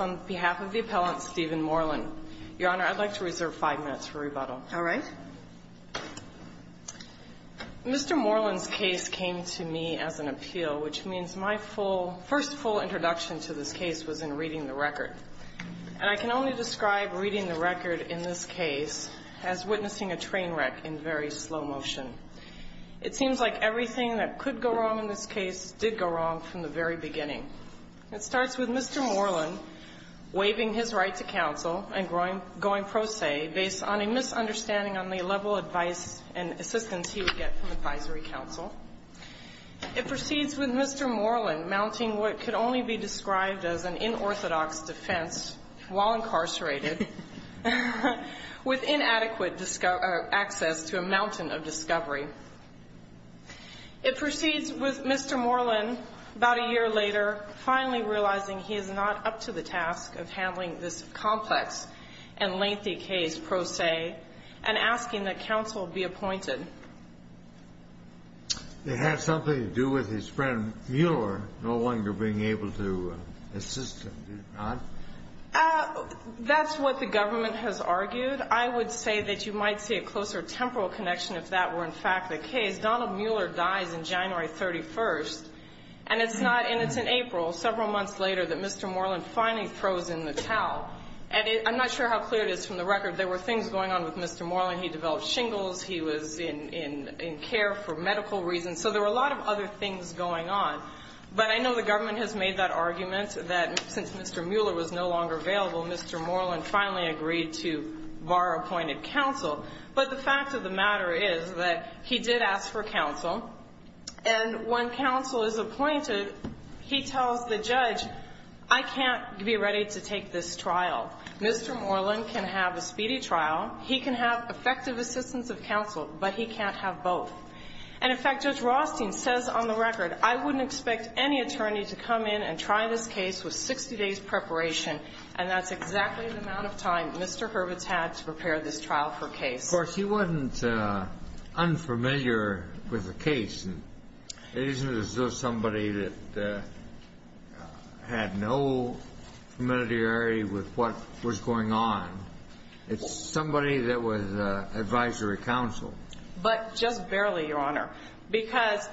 on behalf of the appellant Steven Moreland. Your Honor, I'd like to reserve five minutes for rebuttal. All right. Mr. Moreland's case came to me as an appeal, which means my full first full introduction to this case was in reading the record. And I can only describe reading the record in this case as witnessing a train wreck in very slow motion. It seems like everything that could go wrong in this case did go wrong from the very beginning. It starts with Mr. Moreland waiving his right to counsel and going pro se based on a misunderstanding on the level of advice and assistance he would get from advisory counsel. It proceeds with Mr. Moreland mounting what could only be described as an unorthodox defense while incarcerated with inadequate access to a mountain of discovery. It proceeds with Mr. Moreland about a year later finally realizing he is not up to the task of handling this complex and lengthy case pro se and asking that counsel be appointed. It has something to do with his friend Mueller no longer being able to assist him, did it not? That's what the government has argued. I would say that you might see a closer temporal connection if that were in fact the case. Donald Mueller dies in January 31st, and it's in April, several months later, that Mr. Moreland finally throws in the towel. And I'm not sure how clear it is from the record. There were things going on with Mr. Moreland. He developed shingles. He was in care for medical reasons. So there were a lot of other things going on. But I know the government has made that argument that since Mr. Mueller was no longer available, Mr. Moreland finally agreed to bar appointed counsel. But the fact of the matter is that he did ask for counsel. And when counsel is appointed, he tells the judge, I can't be ready to take this trial. Mr. Moreland can have a speedy trial. He can have effective assistance of counsel, but he can't have both. And, in fact, Judge Rothstein says on the record, I wouldn't expect any attorney to come in and try this case with 60 days preparation. And that's exactly the amount of time Mr. Hurwitz had to prepare this trial for a case. Of course, he wasn't unfamiliar with the case. And it isn't as though somebody that had no familiarity with what was going on. It's somebody that was advisory counsel. But just barely, Your Honor, because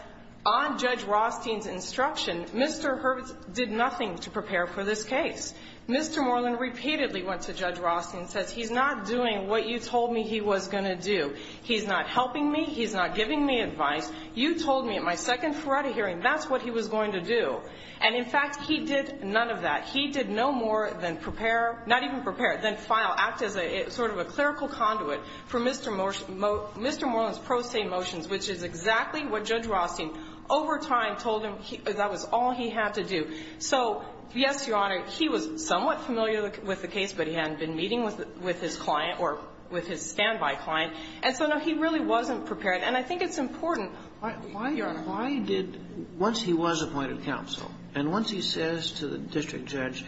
on Judge Rothstein's instruction, Mr. Hurwitz did nothing to prepare for this case. Mr. Moreland repeatedly went to Judge Rothstein and says he's not doing what you told me he was going to do. He's not helping me. He's not giving me advice. You told me at my second Ferretta hearing that's what he was going to do. And, in fact, he did none of that. He did no more than prepare, not even prepare, than file, act as a sort of a clerical conduit for Mr. Moreland's pro se motions, which is exactly what Judge Rothstein over time told him that was all he had to do. So, yes, Your Honor, he was somewhat familiar with the case, but he hadn't been meeting with his client or with his standby client. And so, no, he really wasn't prepared. And I think it's important, Your Honor. Why did, once he was appointed counsel, and once he says to the district judge,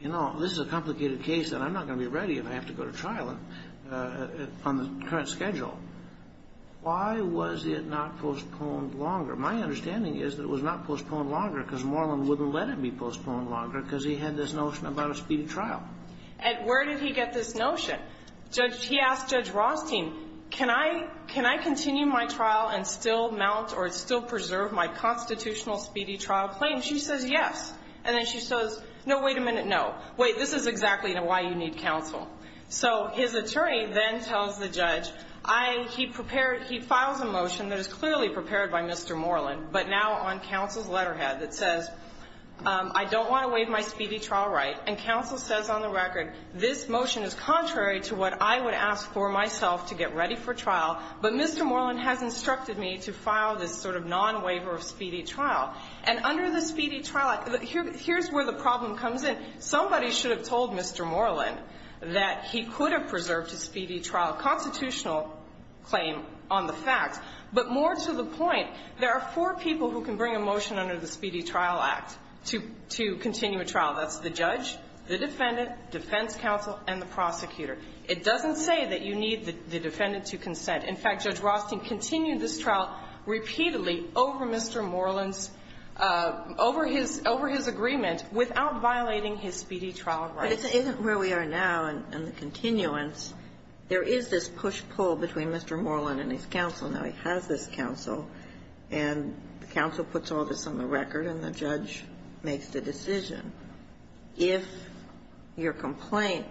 you know, this is a complicated case and I'm not going to be ready if I have to go to trial on the current schedule, why was it not postponed longer? My understanding is that it was not postponed longer because Moreland wouldn't let it be postponed longer because he had this notion about a speedy trial. And where did he get this notion? He asked Judge Rothstein, can I continue my trial and still mount or still preserve my constitutional speedy trial claim? She says yes. And then she says, no, wait a minute, no. Wait, this is exactly why you need counsel. So his attorney then tells the judge, he prepared, he files a motion that is clearly prepared by Mr. Moreland, but now on counsel's letterhead that says, I don't want to waive my speedy trial right. And counsel says on the record, this motion is contrary to what I would ask for myself to get ready for trial, but Mr. Moreland has instructed me to file this sort of non-waiver of speedy trial. And under the speedy trial, here's where the problem comes in. Somebody should have told Mr. Moreland that he could have preserved his speedy trial constitutional claim on the facts. But more to the point, there are four people who can bring a motion under the speedy trial act to continue a trial. That's the judge, the defendant, defense counsel, and the prosecutor. It doesn't say that you need the defendant to consent. In fact, Judge Rothstein continued this trial repeatedly over Mr. Moreland's – over his agreement without violating his speedy trial rights. But it isn't where we are now in the continuance. There is this push-pull between Mr. Moreland and his counsel. Now, he has this counsel, and the counsel puts all this on the record, and the judge makes the decision. If your complaint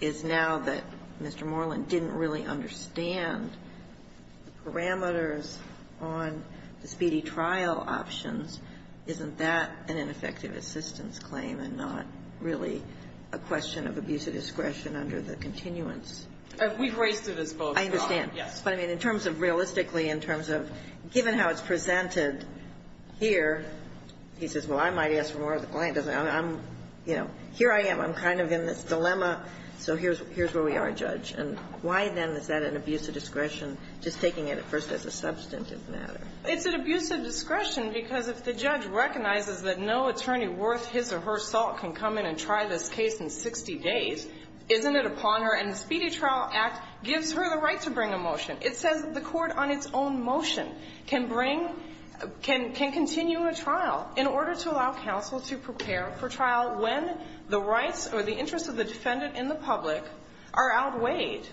is now that Mr. Moreland didn't really understand the parameters on the speedy trial options, isn't that an ineffective assistance claim and not really a question of abuse of discretion under the continuance? We've raised it as both. I understand. Yes. But I mean, in terms of realistically, in terms of given how it's presented here, he says, well, I might ask for more of the client. I'm, you know, here I am. I'm kind of in this dilemma. So here's where we are, Judge. And why, then, is that an abuse of discretion, just taking it at first as a substantive matter? It's an abuse of discretion because if the judge recognizes that no attorney worth his or her salt can come in and try this case in 60 days, isn't it upon her – and the Speedy Trial Act gives her the right to bring a motion. It says the court on its own motion can bring – can continue a trial in order to allow counsel to prepare for trial when the rights or the interests of the defendant in the public are outweighed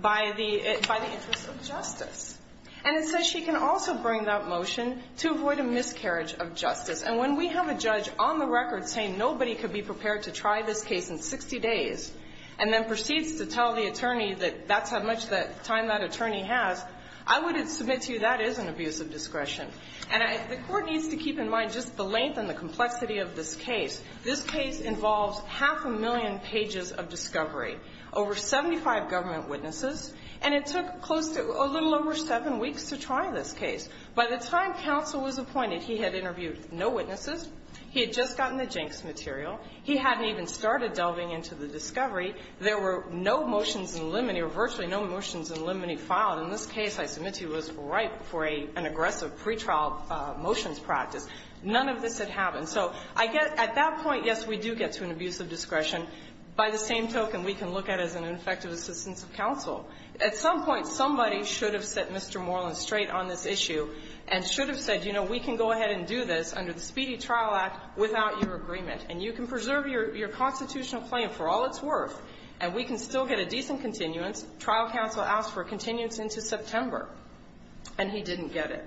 by the – by the interests of justice. And it says she can also bring that motion to avoid a miscarriage of justice. And when we have a judge on the record saying nobody could be prepared to try this case in 60 days, and then proceeds to tell the attorney that that's how much time that attorney has, I would submit to you that is an abuse of discretion. And I – the court needs to keep in mind just the length and the complexity of this case. This case involves half a million pages of discovery, over 75 government witnesses, and it took close to – a little over seven weeks to try this case. By the time counsel was appointed, he had interviewed no witnesses. He had just gotten the Jenks material. He hadn't even started delving into the discovery. There were no motions in limine or virtually no motions in limine filed. In this case, I submit to you, it was right before a – an aggressive pretrial motions practice. None of this had happened. So I get – at that point, yes, we do get to an abuse of discretion. By the same token, we can look at it as an ineffective assistance of counsel. At some point, somebody should have set Mr. Moreland straight on this issue and should have said, you know, we can go ahead and do this under the Speedy Trial Act without your agreement. And you can preserve your constitutional claim for all it's worth. And we can still get a decent continuance. Trial counsel asked for a continuance into September, and he didn't get it.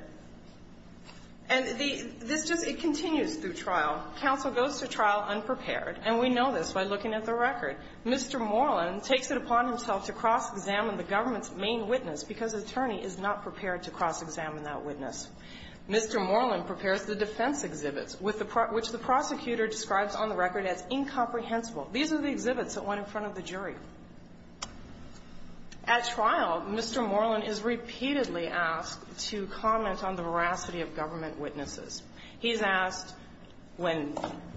And the – this just – it continues through trial. Counsel goes to trial unprepared. And we know this by looking at the record. Mr. Moreland takes it upon himself to cross-examine the government's main witness because the attorney is not prepared to cross-examine that witness. Mr. Moreland prepares the defense exhibits, which the prosecutor describes on the record as incomprehensible. These are the exhibits that went in front of the jury. At trial, Mr. Moreland is repeatedly asked to comment on the veracity of government witnesses. He's asked, when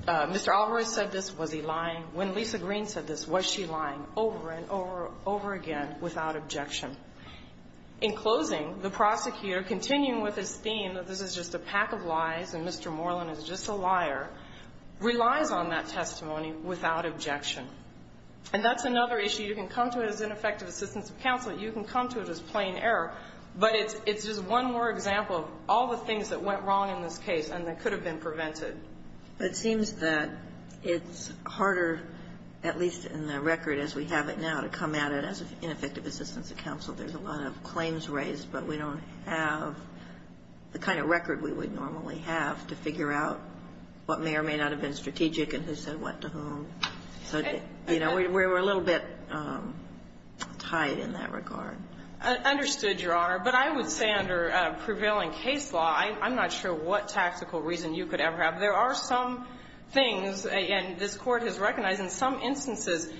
Mr. Alvarez said this, was he lying? When Lisa Green said this, was she lying? Over and over, over again, without objection. In closing, the prosecutor, continuing with his theme that this is just a pack of lies and Mr. Moreland is just a liar, relies on that testimony without objection. And that's another issue. You can come to it as ineffective assistance of counsel. You can come to it as plain error. But it's just one more example of all the things that went wrong in this case and that could have been prevented. But it seems that it's harder, at least in the record as we have it now, to come out as ineffective assistance of counsel. There's a lot of claims raised, but we don't have the kind of record we would normally have to figure out what may or may not have been strategic and who said what to whom. So, you know, we're a little bit tight in that regard. Understood, Your Honor. But I would say under prevailing case law, I'm not sure what tactical reason you could ever have. There are some things, and this Court has recognized in some instances,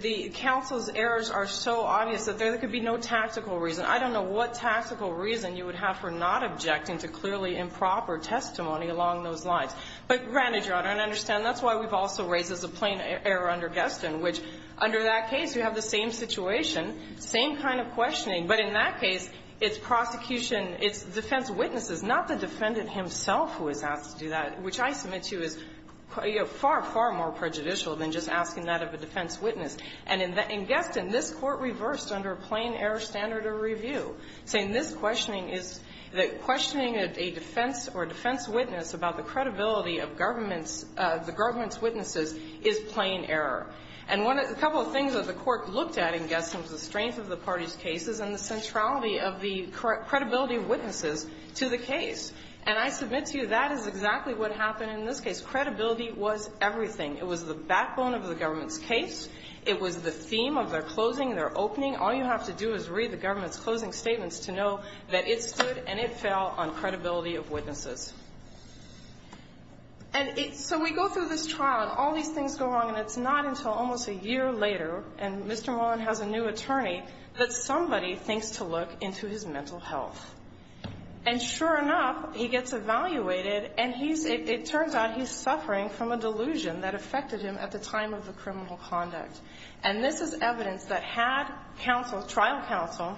the counsel's errors are so obvious that there could be no tactical reason. I don't know what tactical reason you would have for not objecting to clearly improper testimony along those lines. But granted, Your Honor, and I understand that's why we've also raised as a plain error under Guestin, which under that case you have the same situation, same kind of questioning, but in that case, it's prosecution, it's defense witnesses, not the defendant himself who is asked to do that, which I submit to you is far, far more prejudicial than just asking that of a defense witness. And in Guestin, this Court reversed under a plain error standard of review, saying this questioning is that questioning a defense or a defense witness about the credibility of the government's witnesses is plain error. And a couple of things that the Court looked at in Guestin was the strength of the parties' cases and the centrality of the credibility of witnesses to the case. And I submit to you that is exactly what happened in this case. Credibility was everything. It was the backbone of the government's case. It was the theme of their closing, their opening. All you have to do is read the government's closing statements to know that it stood and it fell on credibility of witnesses. And it's so we go through this trial, and all these things go wrong, and it's not until almost a year later, and Mr. Mullen has a new attorney, that somebody thinks to look into his mental health. And sure enough, he gets evaluated, and he's – it turns out he's suffering from a delusion that affected him at the time of the criminal conduct. And this is evidence that had counsel, trial counsel,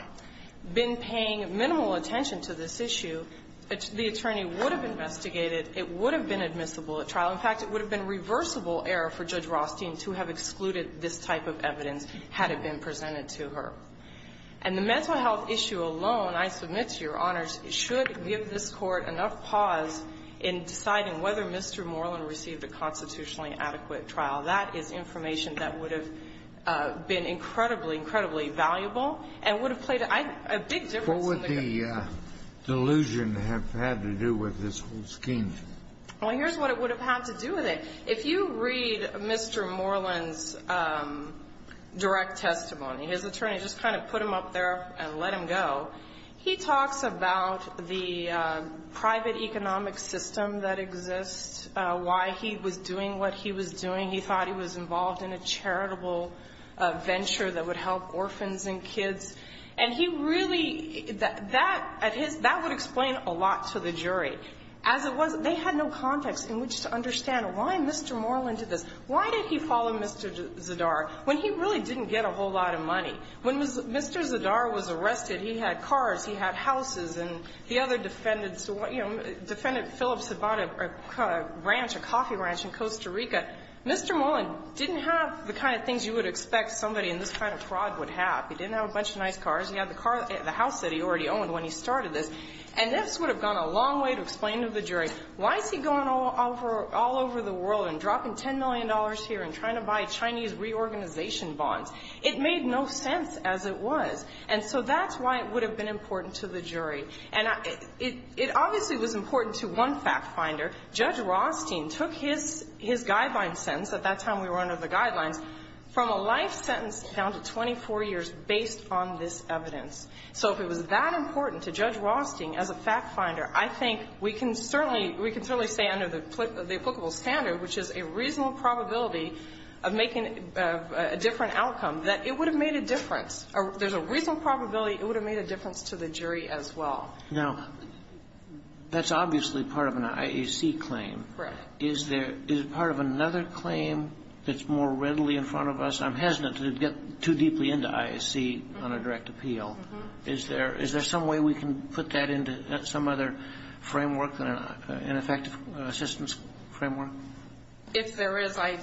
been paying minimal attention to this issue, the attorney would have investigated, it would have been admissible at trial. In fact, it would have been reversible error for Judge Rothstein to have excluded this type of evidence had it been presented to her. And the mental health issue alone, I submit to Your Honors, should give this Court enough pause in deciding whether Mr. Mullen received a constitutionally adequate trial. That is information that would have been incredibly, incredibly valuable and would have played a big difference. What would the delusion have had to do with this whole scheme? Well, here's what it would have had to do with it. If you read Mr. Mullen's direct testimony, his attorney just kind of put him up there and let him go. He talks about the private economic system that exists, why he was doing what he was doing. He thought he was involved in a charitable venture that would help orphans and kids. And he really – that at his – that would explain a lot to the jury. As it was, they had no context in which to understand why Mr. Mullen did this. Why did he follow Mr. Zadar when he really didn't get a whole lot of money? When Mr. Zadar was arrested, he had cars, he had houses, and the other defendants – you know, Defendant Phillips had bought a ranch, a coffee ranch in Costa Rica. Mr. Mullen didn't have the kind of things you would expect somebody in this kind of fraud would have. He didn't have a bunch of nice cars. He had the car – the house that he already owned when he started this. And this would have gone a long way to explain to the jury, why is he going all over – all over the world and dropping $10 million here and trying to buy Chinese reorganization bonds? It made no sense as it was. And so that's why it would have been important to the jury. And it obviously was important to one fact finder. Judge Rothstein took his – his guideline sentence – at that time we were under the guidelines – from a life sentence down to 24 years based on this evidence. So if it was that important to Judge Rothstein as a fact finder, I think we can certainly – we can certainly say under the applicable standard, which is a reasonable probability of making a different outcome, that it would have made a difference. There's a reasonable probability it would have made a difference to the jury as well. Now, that's obviously part of an IAC claim. Correct. Is there – is it part of another claim that's more readily in front of us? I'm hesitant to get too deeply into IAC on a direct appeal. Is there – is there some way we can put that into some other framework than an effective assistance framework? If there is, I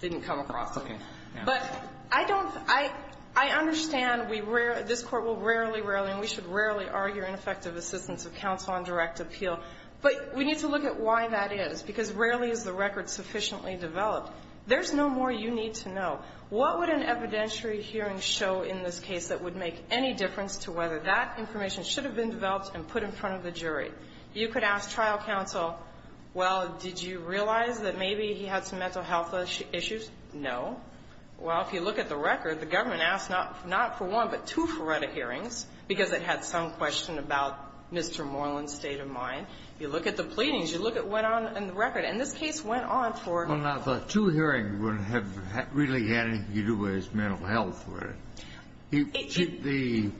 didn't come across any. But I don't – I understand we – this Court will rarely, rarely, and we should rarely argue ineffective assistance of counsel on direct appeal. But we need to look at why that is, because rarely is the record sufficiently developed. There's no more you need to know. What would an evidentiary hearing show in this case that would make any difference You could ask trial counsel, well, did you realize that maybe he had some mental health issues? No. Well, if you look at the record, the government asked not for one, but two Feretta hearings, because it had some question about Mr. Moreland's state of mind. You look at the pleadings. You look at what went on in the record. And this case went on for – Well, now, the two hearings wouldn't have really had anything to do with his mental health, would it?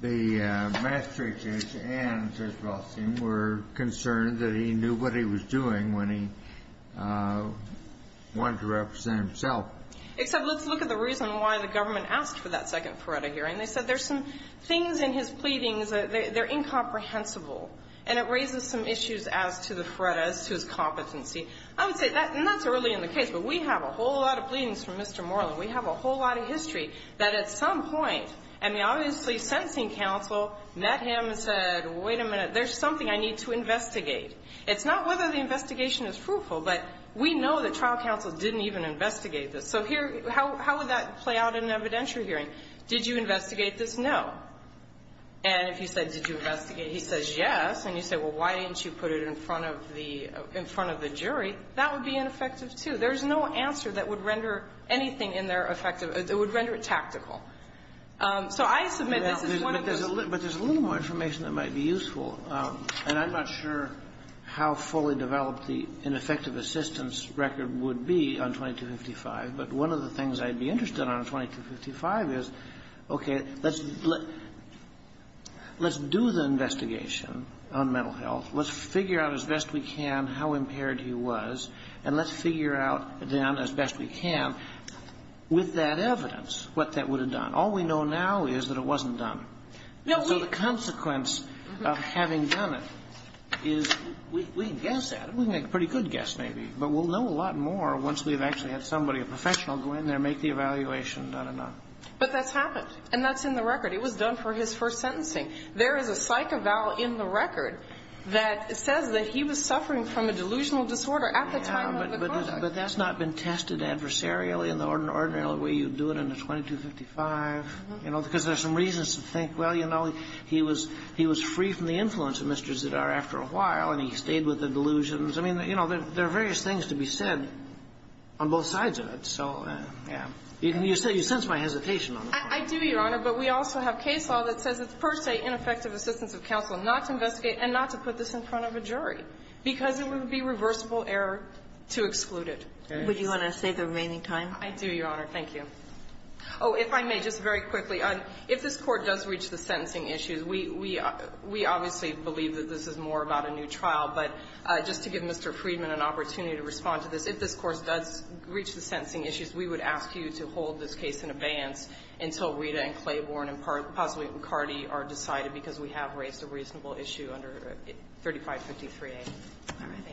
The magistrates and Judge Rothstein were concerned that he knew what he was doing when he wanted to represent himself. Except let's look at the reason why the government asked for that second Feretta hearing. They said there's some things in his pleadings that they're incomprehensible, and it raises some issues as to the Feretta, as to his competency. I would say that – and that's early in the case, but we have a whole lot of pleadings from Mr. Moreland. We have a whole lot of history that at some point – I mean, obviously, sentencing counsel met him and said, wait a minute, there's something I need to investigate. It's not whether the investigation is fruitful, but we know that trial counsel didn't even investigate this. So here – how would that play out in an evidentiary hearing? Did you investigate this? No. And if you said, did you investigate, he says yes, and you say, well, why didn't you put it in front of the – in front of the jury, that would be ineffective There's no answer that would render anything in there effective. It would render it tactical. So I submit this is one of the – But there's a little more information that might be useful. And I'm not sure how fully developed the ineffective assistance record would be on 2255, but one of the things I'd be interested on 2255 is, okay, let's do the investigation on mental health. Let's figure out as best we can how impaired he was, and let's figure out, then, as best we can, with that evidence, what that would have done. All we know now is that it wasn't done. And so the consequence of having done it is – we can guess at it. We can make a pretty good guess, maybe. But we'll know a lot more once we've actually had somebody, a professional, go in there and make the evaluation, done or not. But that's happened. And that's in the record. It was done for his first sentencing. There is a psych eval in the record that says that he was suffering from a delusional disorder at the time of the crime. But that's not been tested adversarially in the ordinary way you would do it under 2255, you know, because there's some reasons to think, well, you know, he was free from the influence of Mr. Zedar after a while, and he stayed with the delusions. I mean, you know, there are various things to be said on both sides of it. So, yeah. You sense my hesitation on that. I do, Your Honor. But we also have case law that says it's per se ineffective assistance of counsel not to investigate and not to put this in front of a jury because it would be reversible error to exclude it. Would you want to save the remaining time? I do, Your Honor. Thank you. Oh, if I may, just very quickly. If this Court does reach the sentencing issues, we obviously believe that this is more about a new trial. But just to give Mr. Friedman an opportunity to respond to this, if this Court does reach the sentencing issues, we would ask you to hold this case in abeyance until Rita and Claiborne and possibly McCarty are decided, because we have raised a reasonable issue under 3553A. All right. Thank you.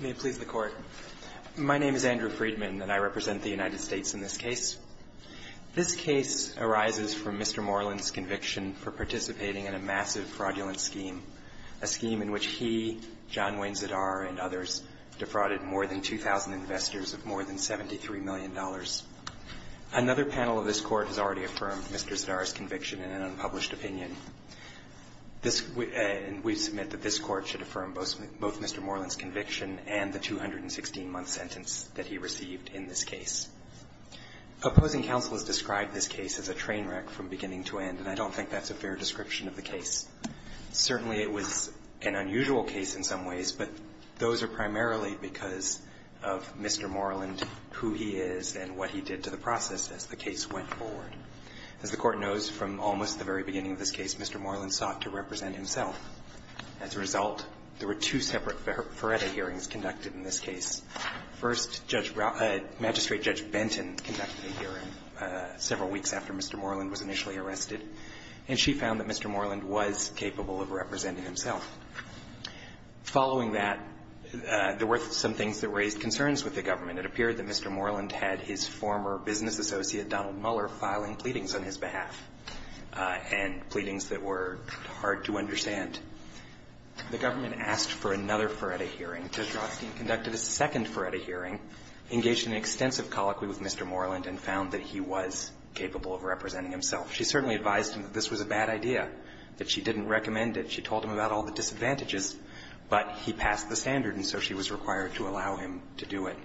May it please the Court. My name is Andrew Friedman, and I represent the United States in this case. This case arises from Mr. Moreland's conviction for participating in a massive fraudulent scheme, a scheme in which he, John Wayne Zadar, and others defrauded more than 2,000 investors of more than $73 million. Another panel of this Court has already affirmed Mr. Zadar's conviction in an unpublished opinion. This we we submit that this Court should affirm both Mr. Moreland's conviction and the 216-month sentence that he received in this case. Opposing counsel has described this case as a train wreck from beginning to end, and I don't think that's a fair description of the case. Certainly, it was an unusual case in some ways, but those are primarily because of Mr. Moreland, who he is, and what he did to the process as the case went forward. As the Court knows, from almost the very beginning of this case, Mr. Moreland sought to represent himself. As a result, there were two separate Feretta hearings conducted in this case. First, Judge Ralph – Magistrate Judge Benton conducted a hearing several weeks after Mr. Moreland was initially arrested, and she found that Mr. Moreland was capable of representing himself. Following that, there were some things that raised concerns with the government. It appeared that Mr. Moreland had his former business associate, Donald Muller, filing pleadings on his behalf, and pleadings that were hard to understand. The government asked for another Feretta hearing. Judge Rothstein conducted a second Feretta hearing, engaged in an extensive colloquy with Mr. Moreland, and found that he was capable of representing himself. She certainly advised him that this was a bad idea, that she didn't recommend it. She told him about all the disadvantages, but he passed the standard, and so she was required to allow him to do it.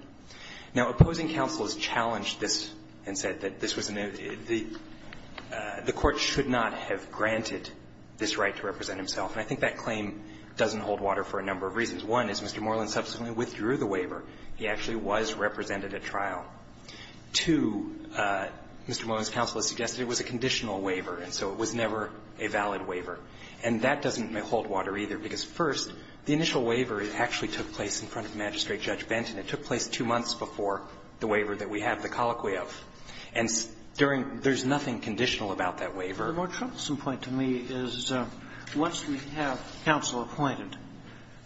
Now, opposing counsel has challenged this and said that this was an – the Court should not have granted this right to represent himself. And I think that claim doesn't hold water for a number of reasons. One is Mr. Moreland subsequently withdrew the waiver. He actually was represented at trial. Two, Mr. Moreland's counsel has suggested it was a conditional waiver, and so it was never a valid waiver. And that doesn't hold water, either, because, first, the initial waiver actually took place in front of Magistrate Judge Benton. It took place two months before the waiver that we have the colloquy of. And during – there's nothing conditional about that waiver. Sotomayor, the more troublesome point to me is once we have counsel appointed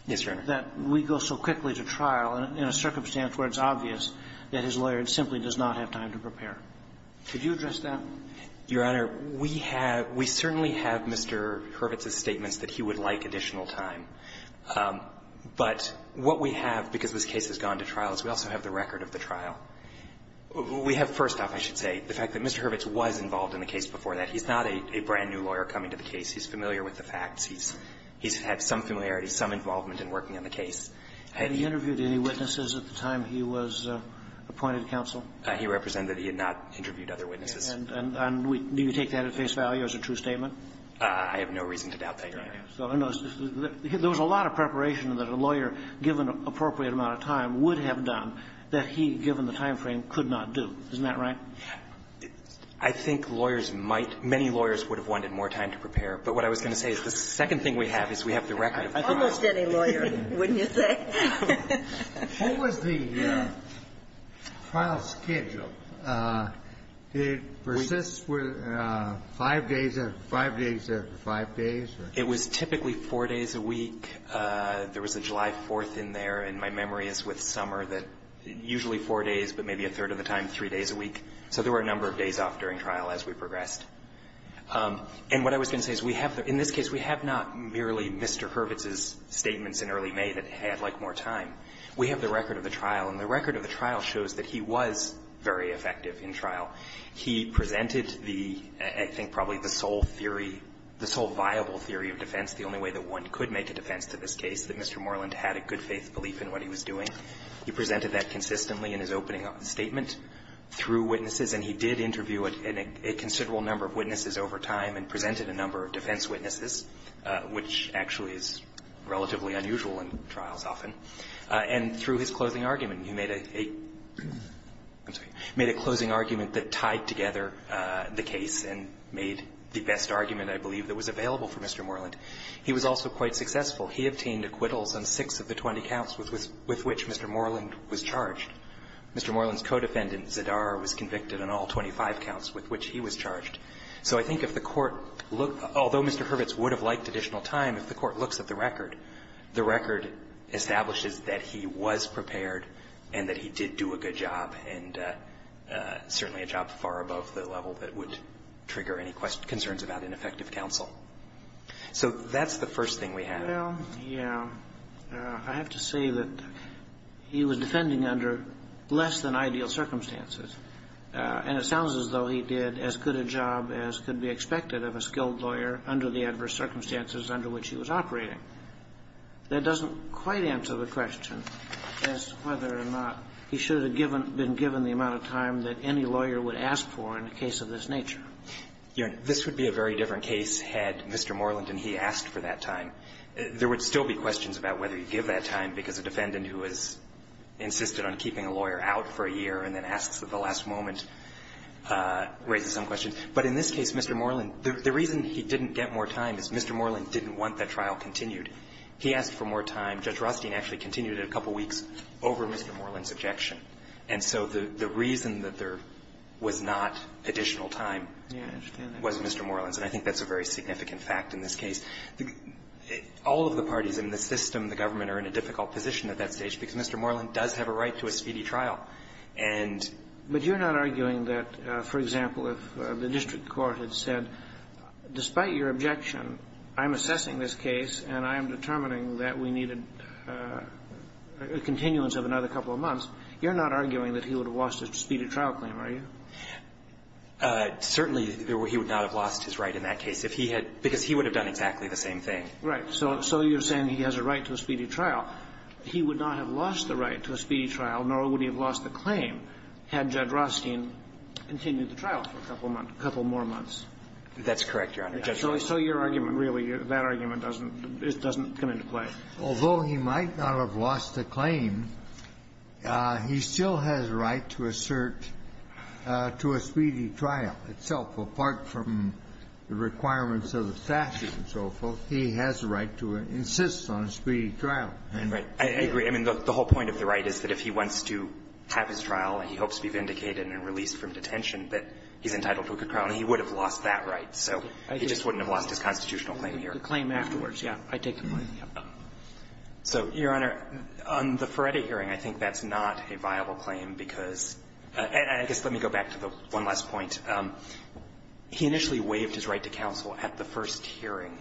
Yes, Your Honor. that we go so quickly to trial in a circumstance where it's obvious that his lawyer simply does not have time to prepare. Could you address that? Your Honor, we have – we certainly have Mr. Hurwitz's statements that he would like additional time, but what we have, because this case has gone to trial, is we also have the record of the trial. We have, first off, I should say, the fact that Mr. Hurwitz was involved in the case before that. He's not a brand-new lawyer coming to the case. He's familiar with the facts. He's had some familiarity, some involvement in working on the case. Had he interviewed any witnesses at the time he was appointed counsel? He represented he had not interviewed other witnesses. And do you take that at face value as a true statement? I have no reason to doubt that, Your Honor. There was a lot of preparation that a lawyer, given an appropriate amount of time, would have done that he, given the time frame, could not do. Isn't that right? I think lawyers might – many lawyers would have wanted more time to prepare. But what I was going to say is the second thing we have is we have the record of the trial. Almost any lawyer, wouldn't you say? What was the trial schedule? Did it persist for five days after five days after five days? It was typically four days a week. There was a July 4th in there. And my memory is with summer that usually four days, but maybe a third of the time, three days a week. So there were a number of days off during trial as we progressed. And what I was going to say is we have, in this case, we have not merely Mr. Hurwitz's statements in early May that had, like, more time. We have the record of the trial. And the record of the trial shows that he was very effective in trial. He presented the, I think probably the sole theory, the sole viable theory of defense, the only way that one could make a defense to this case, that Mr. Moreland had a good-faith belief in what he was doing. He presented that consistently in his opening statement through witnesses. And he did interview a considerable number of witnesses over time and presented a number of defense witnesses, which actually is relatively unusual in trials often. And through his closing argument, he made a, I'm sorry, made a closing argument that tied together the case and made the best argument, I believe, that was available for Mr. Moreland. He was also quite successful. He obtained acquittals on six of the 20 counts with which Mr. Moreland was charged. Mr. Moreland's co-defendant, Zadar, was convicted on all 25 counts with which he was charged. So I think if the Court looked, although Mr. Hurwitz would have liked additional time, if the Court looks at the record, the record establishes that he was prepared and that he did do a good job and certainly a job far above the level that would trigger any concerns about ineffective counsel. So that's the first thing we have. Well, yeah. I have to say that he was defending under less than ideal circumstances. And it sounds as though he did as good a job as could be expected of a skilled lawyer under the adverse circumstances under which he was operating. That doesn't quite answer the question as to whether or not he should have been given the amount of time that any lawyer would ask for in a case of this nature. This would be a very different case had Mr. Moreland and he asked for that time. There would still be questions about whether you give that time because a defendant who has insisted on keeping a lawyer out for a year and then asks at the last moment raises some questions. But in this case, Mr. Moreland, the reason he didn't get more time is Mr. Moreland didn't want that trial continued. He asked for more time. Judge Rothstein actually continued it a couple weeks over Mr. Moreland's objection. And so the reason that there was not additional time was Mr. Moreland's. And I think that's a very significant fact in this case. All of the parties in the system, the government, are in a difficult position at that stage because Mr. Moreland does have a right to a speedy trial. And ---- But you're not arguing that, for example, if the district court had said, despite your objection, I'm assessing this case and I'm determining that we needed a continuance of another couple of months. You're not arguing that he would have lost his speedy trial claim, are you? Certainly, he would not have lost his right in that case if he had ---- because he would have done exactly the same thing. Right. So you're saying he has a right to a speedy trial. He would not have lost the right to a speedy trial, nor would he have lost the claim had Judge Rothstein continued the trial for a couple months, a couple more months. That's correct, Your Honor. So your argument, really, that argument doesn't come into play. Although he might not have lost the claim, he still has a right to assert to a speedy trial itself, apart from the requirements of the statute and so forth. He has a right to insist on a speedy trial. Right. I agree. I mean, the whole point of the right is that if he wants to have his trial and he hopes to be vindicated and released from detention, that he's entitled to a trial. And he would have lost that right. So he just wouldn't have lost his constitutional claim here. The claim afterwards, yes. I take the point, yes. So, Your Honor, on the Ferretti hearing, I think that's not a viable claim, because I guess let me go back to the one last point. He initially waived his right to counsel at the first hearing.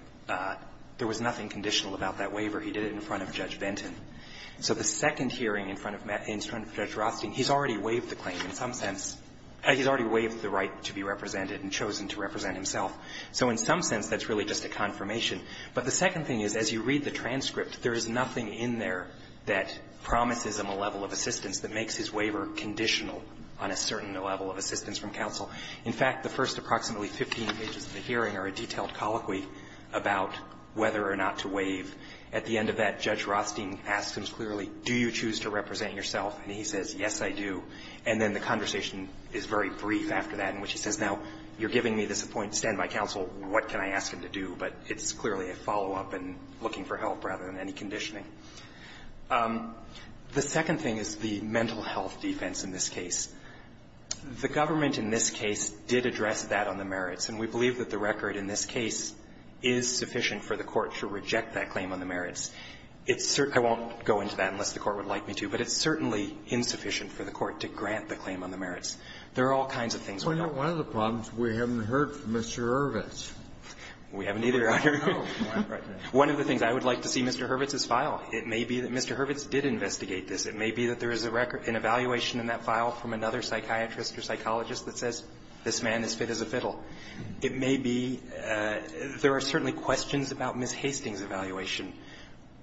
There was nothing conditional about that waiver. He did it in front of Judge Benton. So the second hearing in front of Judge Rothstein, he's already waived the claim in some sense. He's already waived the right to be represented and chosen to represent himself. So in some sense, that's really just a confirmation. But the second thing is, as you read the transcript, there is nothing in there that promises him a level of assistance that makes his waiver conditional on a certain level of assistance from counsel. In fact, the first approximately 15 pages of the hearing are a detailed colloquy about whether or not to waive. At the end of that, Judge Rothstein asks him clearly, do you choose to represent yourself? And he says, yes, I do. And then the conversation is very brief after that in which he says, now, you're giving me this point to stand by counsel. What can I ask him to do? But it's clearly a follow-up and looking for help rather than any conditioning. The second thing is the mental health defense in this case. The government in this case did address that on the merits. And we believe that the record in this case is sufficient for the Court to reject that claim on the merits. I won't go into that unless the Court would like me to. But it's certainly insufficient for the Court to grant the claim on the merits. There are all kinds of things we don't know. One of the things, I would like to see Mr. Hurwitz's file. It may be that Mr. Hurwitz did investigate this. It may be that there is a record, an evaluation in that file from another psychiatrist or psychologist that says this man is fit as a fiddle. It may be there are certainly questions about Ms. Hastings' evaluation.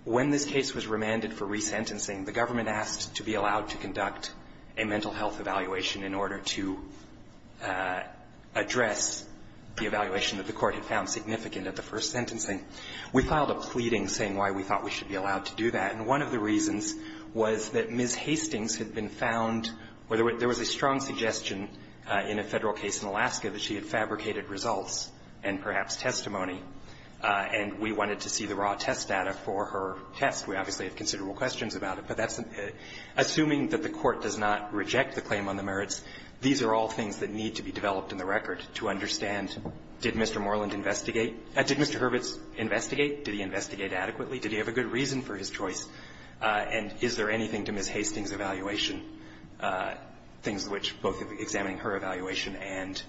When this case was remanded for resentencing, the government asked to be allowed to conduct a mental health evaluation in order to address the evaluation that the Court had found significant at the first sentencing. We filed a pleading saying why we thought we should be allowed to do that. And one of the reasons was that Ms. Hastings had been found or there was a strong suggestion in a Federal case in Alaska that she had fabricated results and perhaps testimony. And we wanted to see the raw test data for her test. We obviously have considerable questions about it. But assuming that the Court does not reject the claim on the merits, these are all things that need to be developed in the record to understand did Mr. Moreland investigate? Did Mr. Hurwitz investigate? Did he investigate adequately? Did he have a good reason for his choice? And is there anything to Ms. Hastings' evaluation, things which both examining her evaluation and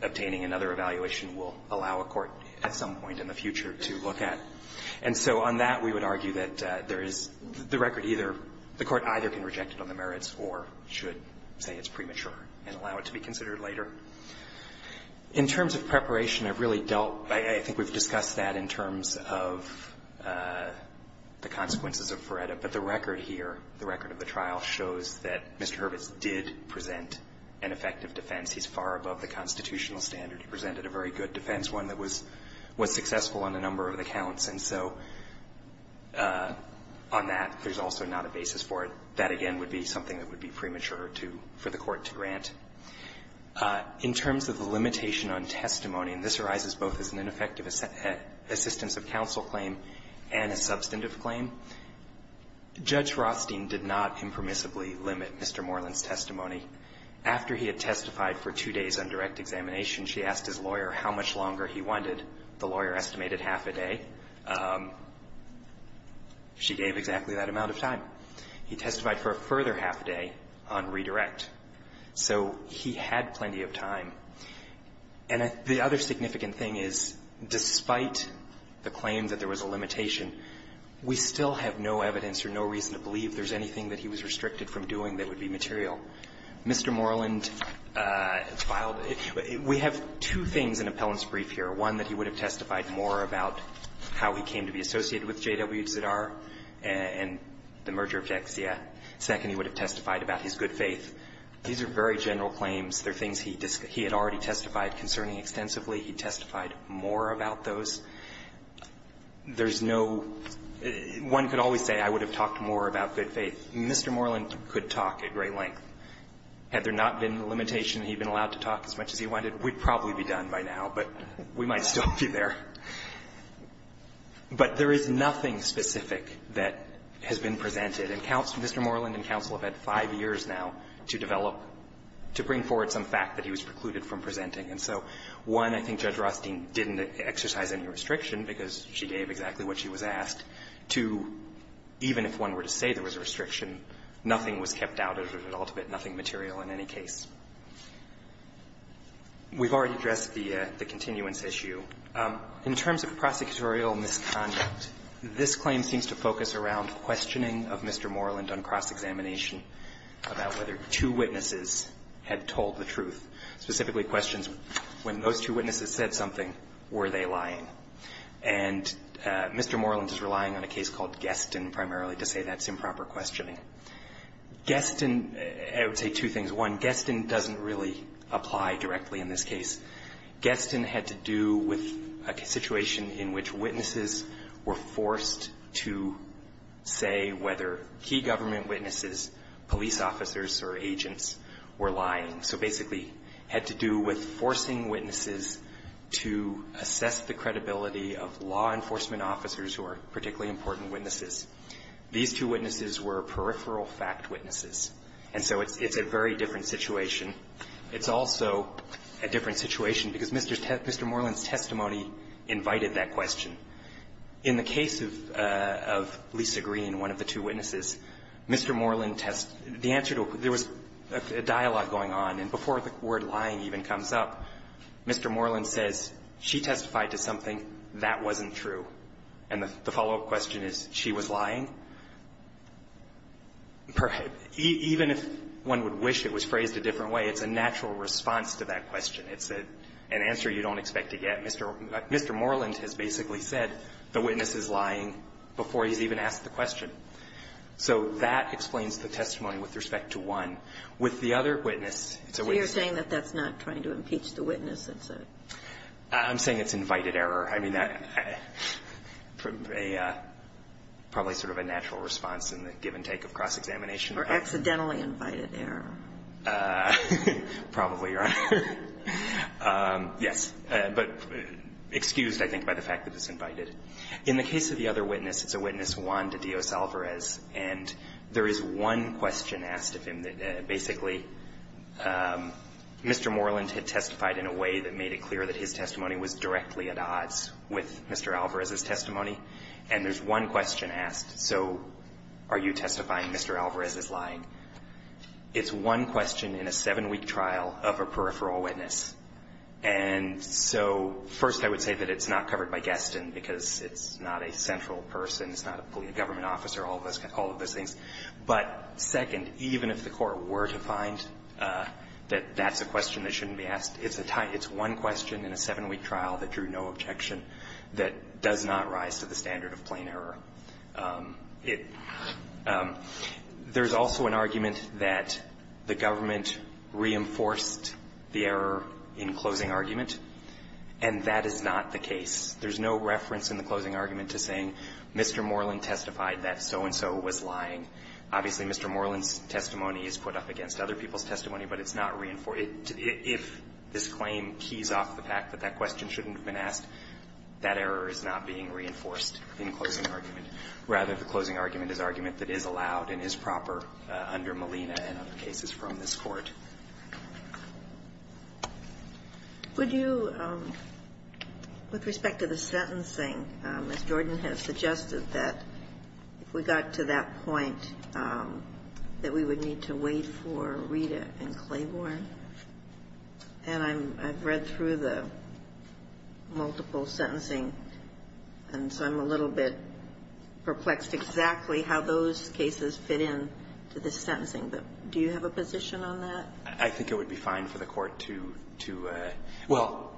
obtaining another evaluation will allow a court at some point in the future to look at? And so on that, we would argue that there is the record either the Court either can reject it on the merits or should say it's premature and allow it to be considered later. In terms of preparation, I've really dealt, I think we've discussed that in terms of the consequences of FREDA. But the record here, the record of the trial, shows that Mr. Hurwitz did present an effective defense. He's far above the constitutional standard. He presented a very good defense, one that was successful on a number of the counts. And so on that, there's also not a basis for it. That, again, would be something that would be premature to, for the Court to grant. In terms of the limitation on testimony, and this arises both as an ineffective assistance of counsel claim and a substantive claim, Judge Rothstein did not impermissibly limit Mr. Moreland's testimony. After he had testified for two days on direct examination, she asked his lawyer how much longer he wanted. The lawyer estimated half a day. She gave exactly that amount of time. He testified for a further half a day on redirect. So he had plenty of time. And the other significant thing is, despite the claim that there was a limitation, we still have no evidence or no reason to believe there's anything that he was restricted from doing that would be material. Mr. Moreland filed – we have two things in Appellant's brief here, one that he would have testified more about how he came to be associated with JWZR and the merger of Dexia. Second, he would have testified about his good faith. These are very general claims. They're things he had already testified concerning extensively. He testified more about those. There's no – one could always say I would have talked more about good faith. Mr. Moreland could talk at great length. Had there not been a limitation, he'd been allowed to talk as much as he wanted. We'd probably be done by now, but we might still be there. But there is nothing specific that has been presented. And Mr. Moreland and counsel have had five years now to develop – to bring forward some fact that he was precluded from presenting. And so, one, I think Judge Rothstein didn't exercise any restriction because she gave exactly what she was asked. Two, even if one were to say there was a restriction, nothing was kept out as a result of it, nothing material in any case. We've already addressed the continuance issue. In terms of prosecutorial misconduct, this claim seems to focus around questioning of Mr. Moreland on cross-examination about whether two witnesses had told the truth, specifically questions when those two witnesses said something, were they lying? And Mr. Moreland is relying on a case called Guestin primarily to say that's improper questioning. Guestin – I would say two things. One, Guestin doesn't really apply directly in this case. Guestin had to do with a situation in which witnesses were forced to say whether key government witnesses, police officers or agents, were lying. So basically, had to do with forcing witnesses to assess the credibility of law enforcement officers who are particularly important witnesses. These two witnesses were peripheral fact witnesses. And so it's a very different situation. It's also a different situation because Mr. Moreland's testimony invited that question. In the case of Lisa Green, one of the two witnesses, Mr. Moreland test – the answer – there was a dialogue going on, and before the word lying even comes up, Mr. Moreland says she testified to something that wasn't true. And the follow-up question is, she was lying? Even if one would wish it was phrased a different way, it's a natural response to that question. It's an answer you don't expect to get. Mr. Moreland has basically said the witness is lying before he's even asked the question. So that explains the testimony with respect to one. With the other witness, it's a witness – So you're saying that that's not trying to impeach the witness? I'm saying it's invited error. I mean, that – probably sort of a natural response in the give-and-take of cross-examination. Or accidentally invited error. Probably, Your Honor. Yes. But excused, I think, by the fact that it's invited. In the case of the other witness, it's a witness 1 to Dios Alvarez, and there is one question asked of him that basically Mr. Moreland had testified in a way that made it clear that his testimony was directly at odds with Mr. Alvarez's testimony. And there's one question asked, so are you testifying Mr. Alvarez is lying? It's one question in a seven-week trial of a peripheral witness. And so, first, I would say that it's not covered by Gaston because it's not a central person, it's not a government officer, all of those things. But, second, even if the Court were to find that that's a question that shouldn't be asked, it's one question in a seven-week trial that drew no objection that does not rise to the standard of plain error. There's also an argument that the government reinforced the error in closing argument, and that is not the case. There's no reference in the closing argument to saying Mr. Moreland testified that so-and-so was lying. Obviously, Mr. Moreland's testimony is put up against other people's testimony, but it's not reinforced. If this claim keys off the fact that that question shouldn't have been asked, that means that the error is not being reinforced in closing argument, rather, the closing argument is argument that is allowed and is proper under Molina and other cases from this Court. Would you, with respect to the sentencing, as Jordan has suggested, that if we got to that point, that we would need to wait for Rita and Claiborne? And I've read through the multiple sentencing, and so I'm a little bit perplexed exactly how those cases fit in to this sentencing, but do you have a position on that? I think it would be fine for the Court to do a – well,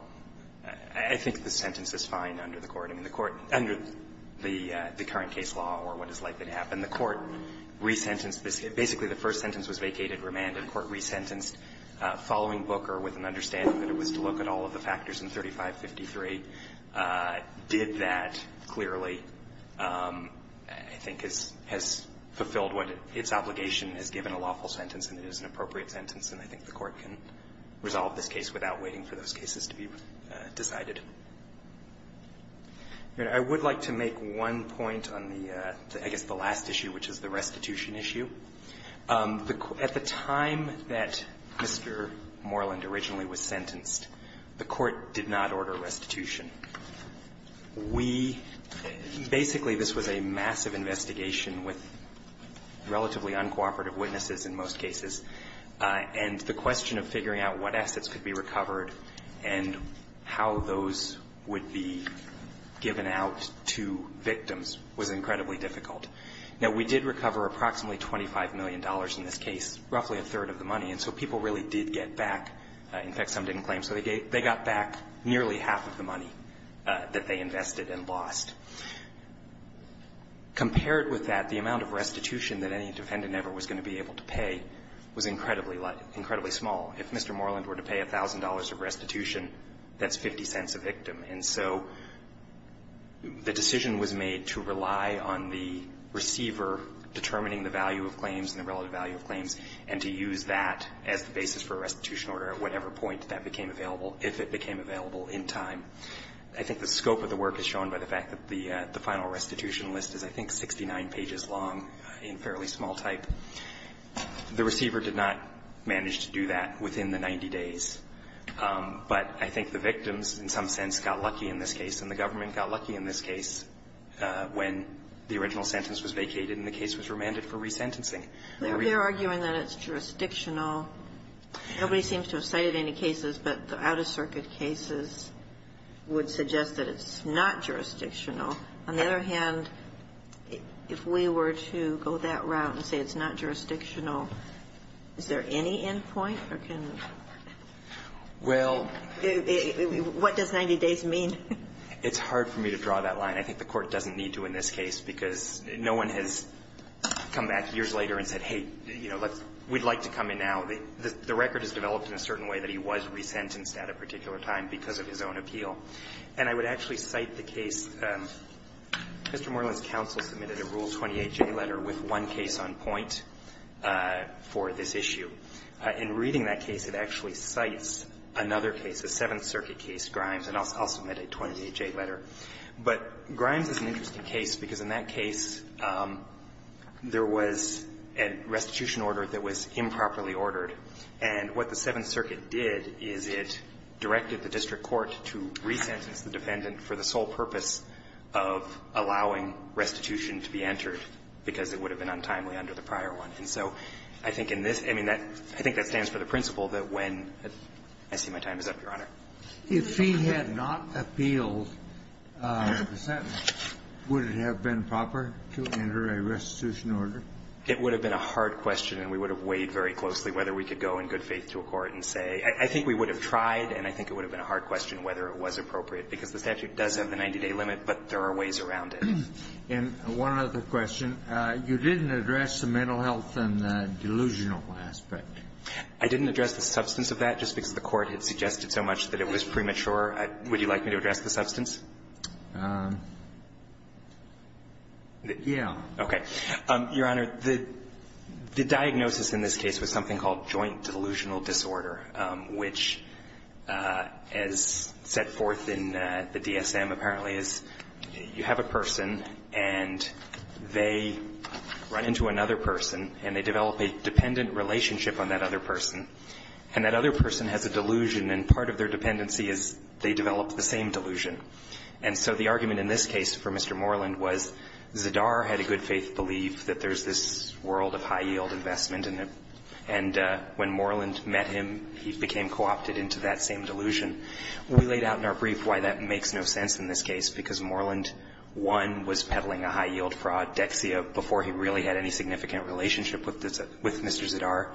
I think the sentence is fine under the Court. I mean, the Court, under the current case law or what is likely to happen, the Court resentenced this. Basically, the first sentence was vacated, remanded. The Court resentenced following Booker with an understanding that it was to look at all of the factors in 3553. Did that clearly, I think, has fulfilled what its obligation has given a lawful sentence, and it is an appropriate sentence, and I think the Court can resolve this case without waiting for those cases to be decided. I would like to make one point on the – I guess the last issue, which is the restitution issue. At the time that Mr. Moreland originally was sentenced, the Court did not order restitution. We – basically, this was a massive investigation with relatively uncooperative witnesses in most cases, and the question of figuring out what assets could be recovered and how those would be given out to victims was incredibly difficult. Now, we did recover approximately $25 million in this case, roughly a third of the money, and so people really did get back – in fact, some didn't claim, so they got back nearly half of the money that they invested and lost. Compared with that, the amount of restitution that any defendant ever was going to be able to pay was incredibly – incredibly small. If Mr. Moreland were to pay $1,000 of restitution, that's 50 cents a victim. And so the decision was made to rely on the receiver determining the value of claims and the relative value of claims, and to use that as the basis for a restitution order at whatever point that became available, if it became available in time. I think the scope of the work is shown by the fact that the final restitution list is, I think, 69 pages long in fairly small type. The receiver did not manage to do that within the 90 days. But I think the victims, in some sense, got lucky in this case, and the government got lucky in this case when the original sentence was vacated and the case was remanded for resentencing. They're arguing that it's jurisdictional. Nobody seems to have cited any cases, but the Outer Circuit cases would suggest that it's not jurisdictional. On the other hand, if we were to go that route and say it's not jurisdictional, is there any end point? Or can we say, well, what does 90 days mean? It's hard for me to draw that line. I think the Court doesn't need to in this case, because no one has come back years later and said, hey, you know, let's we'd like to come in now. The record has developed in a certain way that he was resentenced at a particular time because of his own appeal. And I would actually cite the case. Mr. Moreland's counsel submitted a Rule 28J letter with one case on point. For this issue. In reading that case, it actually cites another case, a Seventh Circuit case, Grimes. And I'll submit a 28J letter. But Grimes is an interesting case, because in that case, there was a restitution order that was improperly ordered. And what the Seventh Circuit did is it directed the district court to resentence the defendant for the sole purpose of allowing restitution to be entered, because it would have been untimely under the prior one. And so I think in this – I mean, that – I think that stands for the principle that when – I see my time is up, Your Honor. If he had not appealed the sentence, would it have been proper to enter a restitution order? It would have been a hard question, and we would have weighed very closely whether we could go in good faith to a court and say – I think we would have tried, and I think it would have been a hard question whether it was appropriate. Because the statute does have the 90-day limit, but there are ways around it. And one other question. You didn't address the mental health and delusional aspect. I didn't address the substance of that, just because the Court had suggested so much that it was premature. Would you like me to address the substance? Yeah. Okay. Your Honor, the diagnosis in this case was something called joint delusional disorder, which, as set forth in the DSM, apparently is you have a person, and they run into another person, and they develop a dependent relationship on that other person. And that other person has a delusion, and part of their dependency is they develop the same delusion. And so the argument in this case for Mr. Moreland was Zadar had a good faith belief that there's this world of high-yield investment, and when Moreland met him, he became co-opted into that same delusion. We laid out in our brief why that makes no sense in this case, because Moreland one, was peddling a high-yield fraud, Dexia, before he really had any significant relationship with Mr. Zadar.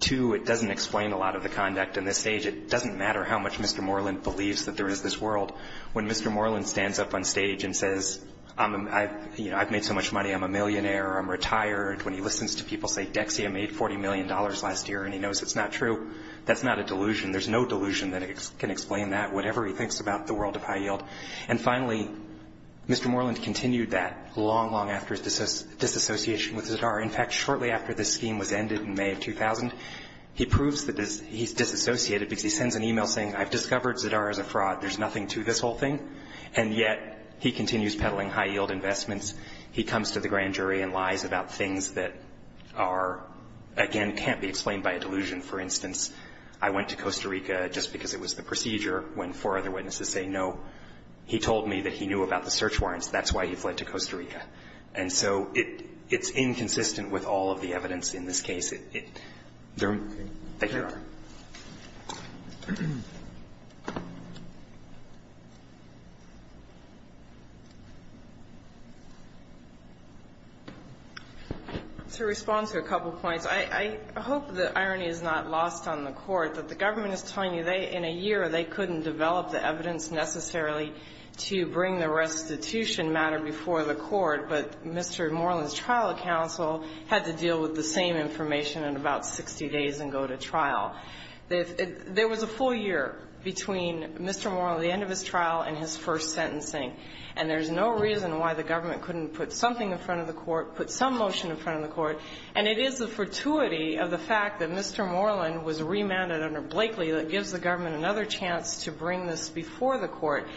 Two, it doesn't explain a lot of the conduct in this stage. It doesn't matter how much Mr. Moreland believes that there is this world. When Mr. Moreland stands up on stage and says, I've made so much money, I'm a millionaire, I'm retired, when he listens to people say, Dexia made $40 million last year, and he knows it's not true, that's not a delusion. There's no delusion that can explain that, whatever he thinks about the world of high-yield. And finally, Mr. Moreland continued that long, long after his disassociation with Zadar. In fact, shortly after this scheme was ended in May of 2000, he proves that he's disassociated, because he sends an email saying, I've discovered Zadar is a fraud, there's nothing to this whole thing, and yet he continues peddling high-yield investments, he comes to the grand jury and lies about things that are, again, can't be explained by a delusion. For instance, I went to Costa Rica just because it was the procedure when four other He told me that he knew about the search warrants. That's why he fled to Costa Rica. And so it's inconsistent with all of the evidence in this case. Thank you, Your Honor. To respond to a couple points, I hope the irony is not lost on the Court, that the restitution matter before the Court, but Mr. Moreland's trial counsel had to deal with the same information in about 60 days and go to trial. There was a full year between Mr. Moreland, the end of his trial, and his first sentencing, and there's no reason why the government couldn't put something in front of the Court, put some motion in front of the Court. And it is the fortuity of the fact that Mr. Moreland was remanded under Blakely that gives the government another chance to bring this before the Court.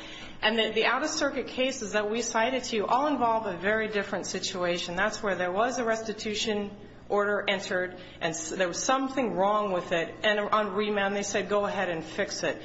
And then the out-of-circuit cases that we cited to you all involve a very different situation. That's where there was a restitution order entered, and there was something wrong with it. And on remand, they said, go ahead and fix it.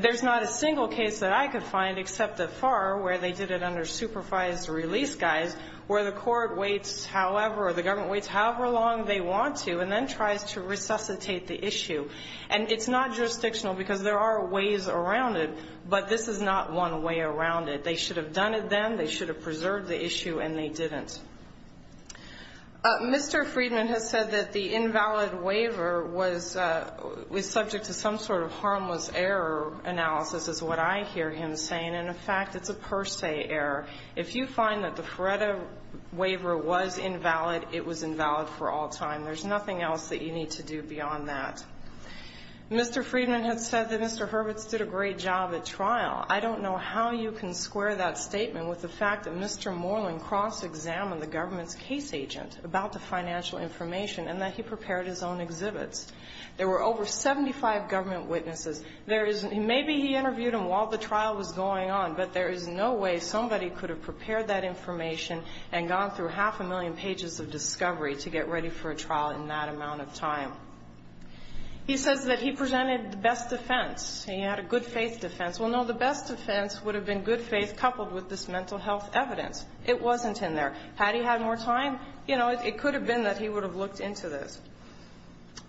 There's not a single case that I could find, except that FAR, where they did it under supervised release guise, where the Court waits however, or the government waits however long they want to, and then tries to resuscitate the issue. And it's not jurisdictional, because there are ways around it, but this is not one way around it. They should have done it then. They should have preserved the issue, and they didn't. Mr. Friedman has said that the invalid waiver was subject to some sort of harmless error analysis, is what I hear him saying. And in fact, it's a per se error. If you find that the Feretta waiver was invalid, it was invalid for all time. There's nothing else that you need to do beyond that. Mr. Friedman has said that Mr. Hurwitz did a great job at trial. I don't know how you can square that statement with the fact that Mr. Moreland cross-examined the government's case agent about the financial information, and that he prepared his own exhibits. There were over 75 government witnesses. There is, maybe he interviewed them while the trial was going on, but there is no way somebody could have prepared that information and gone through half a million pages of discovery to get ready for a trial in that amount of time. He says that he presented the best defense. He had a good faith defense. Well, no, the best defense would have been good faith coupled with this mental health evidence. It wasn't in there. Had he had more time, you know, it could have been that he would have looked into this.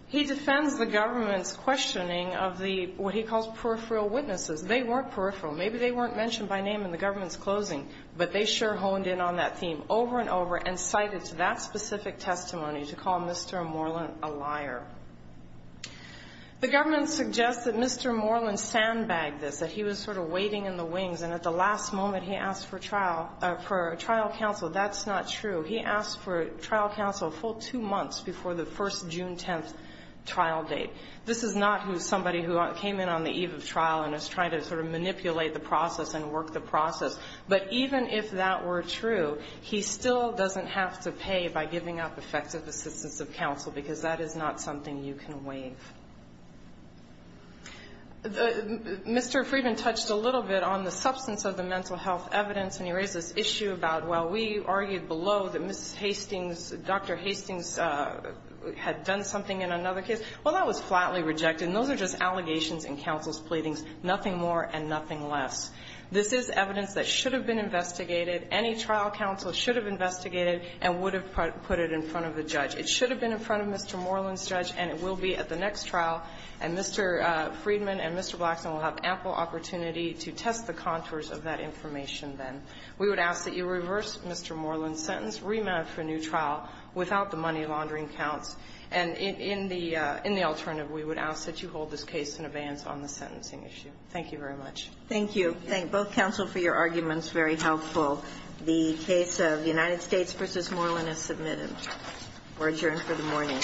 He defends the government's questioning of the, what he calls peripheral witnesses. They weren't peripheral. Maybe they weren't mentioned by name in the government's closing, but they sure honed in on that theme over and over and cited that specific testimony to call Mr. Moreland a liar. The government suggests that Mr. Moreland sandbagged this, that he was sort of waiting in the wings, and at the last moment he asked for trial, for trial counsel. That's not true. He asked for trial counsel a full two months before the first June 10th trial date. This is not somebody who came in on the eve of trial and is trying to sort of manipulate the process and work the process. But even if that were true, he still doesn't have to pay by giving up effective assistance of counsel, because that is not something you can waive. Mr. Friedman touched a little bit on the substance of the mental health evidence, and he raised this issue about, well, we argued below that Mrs. Hastings, Dr. Hastings had done something in another case. Well, that was flatly rejected, and those are just allegations in counsel's pleadings, nothing more and nothing less. This is evidence that should have been investigated. Any trial counsel should have investigated and would have put it in front of the judge. It should have been in front of Mr. Moreland's judge, and it will be at the next trial, and Mr. Friedman and Mr. Blackson will have ample opportunity to test the contours of that information then. We would ask that you reverse Mr. Moreland's sentence, remand for a new trial without the money laundering counts, and in the alternative, we would ask that you hold this case in abeyance on the sentencing issue. Thank you very much. Thank you. Thank both counsel for your arguments, very helpful. The case of United States v. Moreland is submitted. We're adjourned for the morning.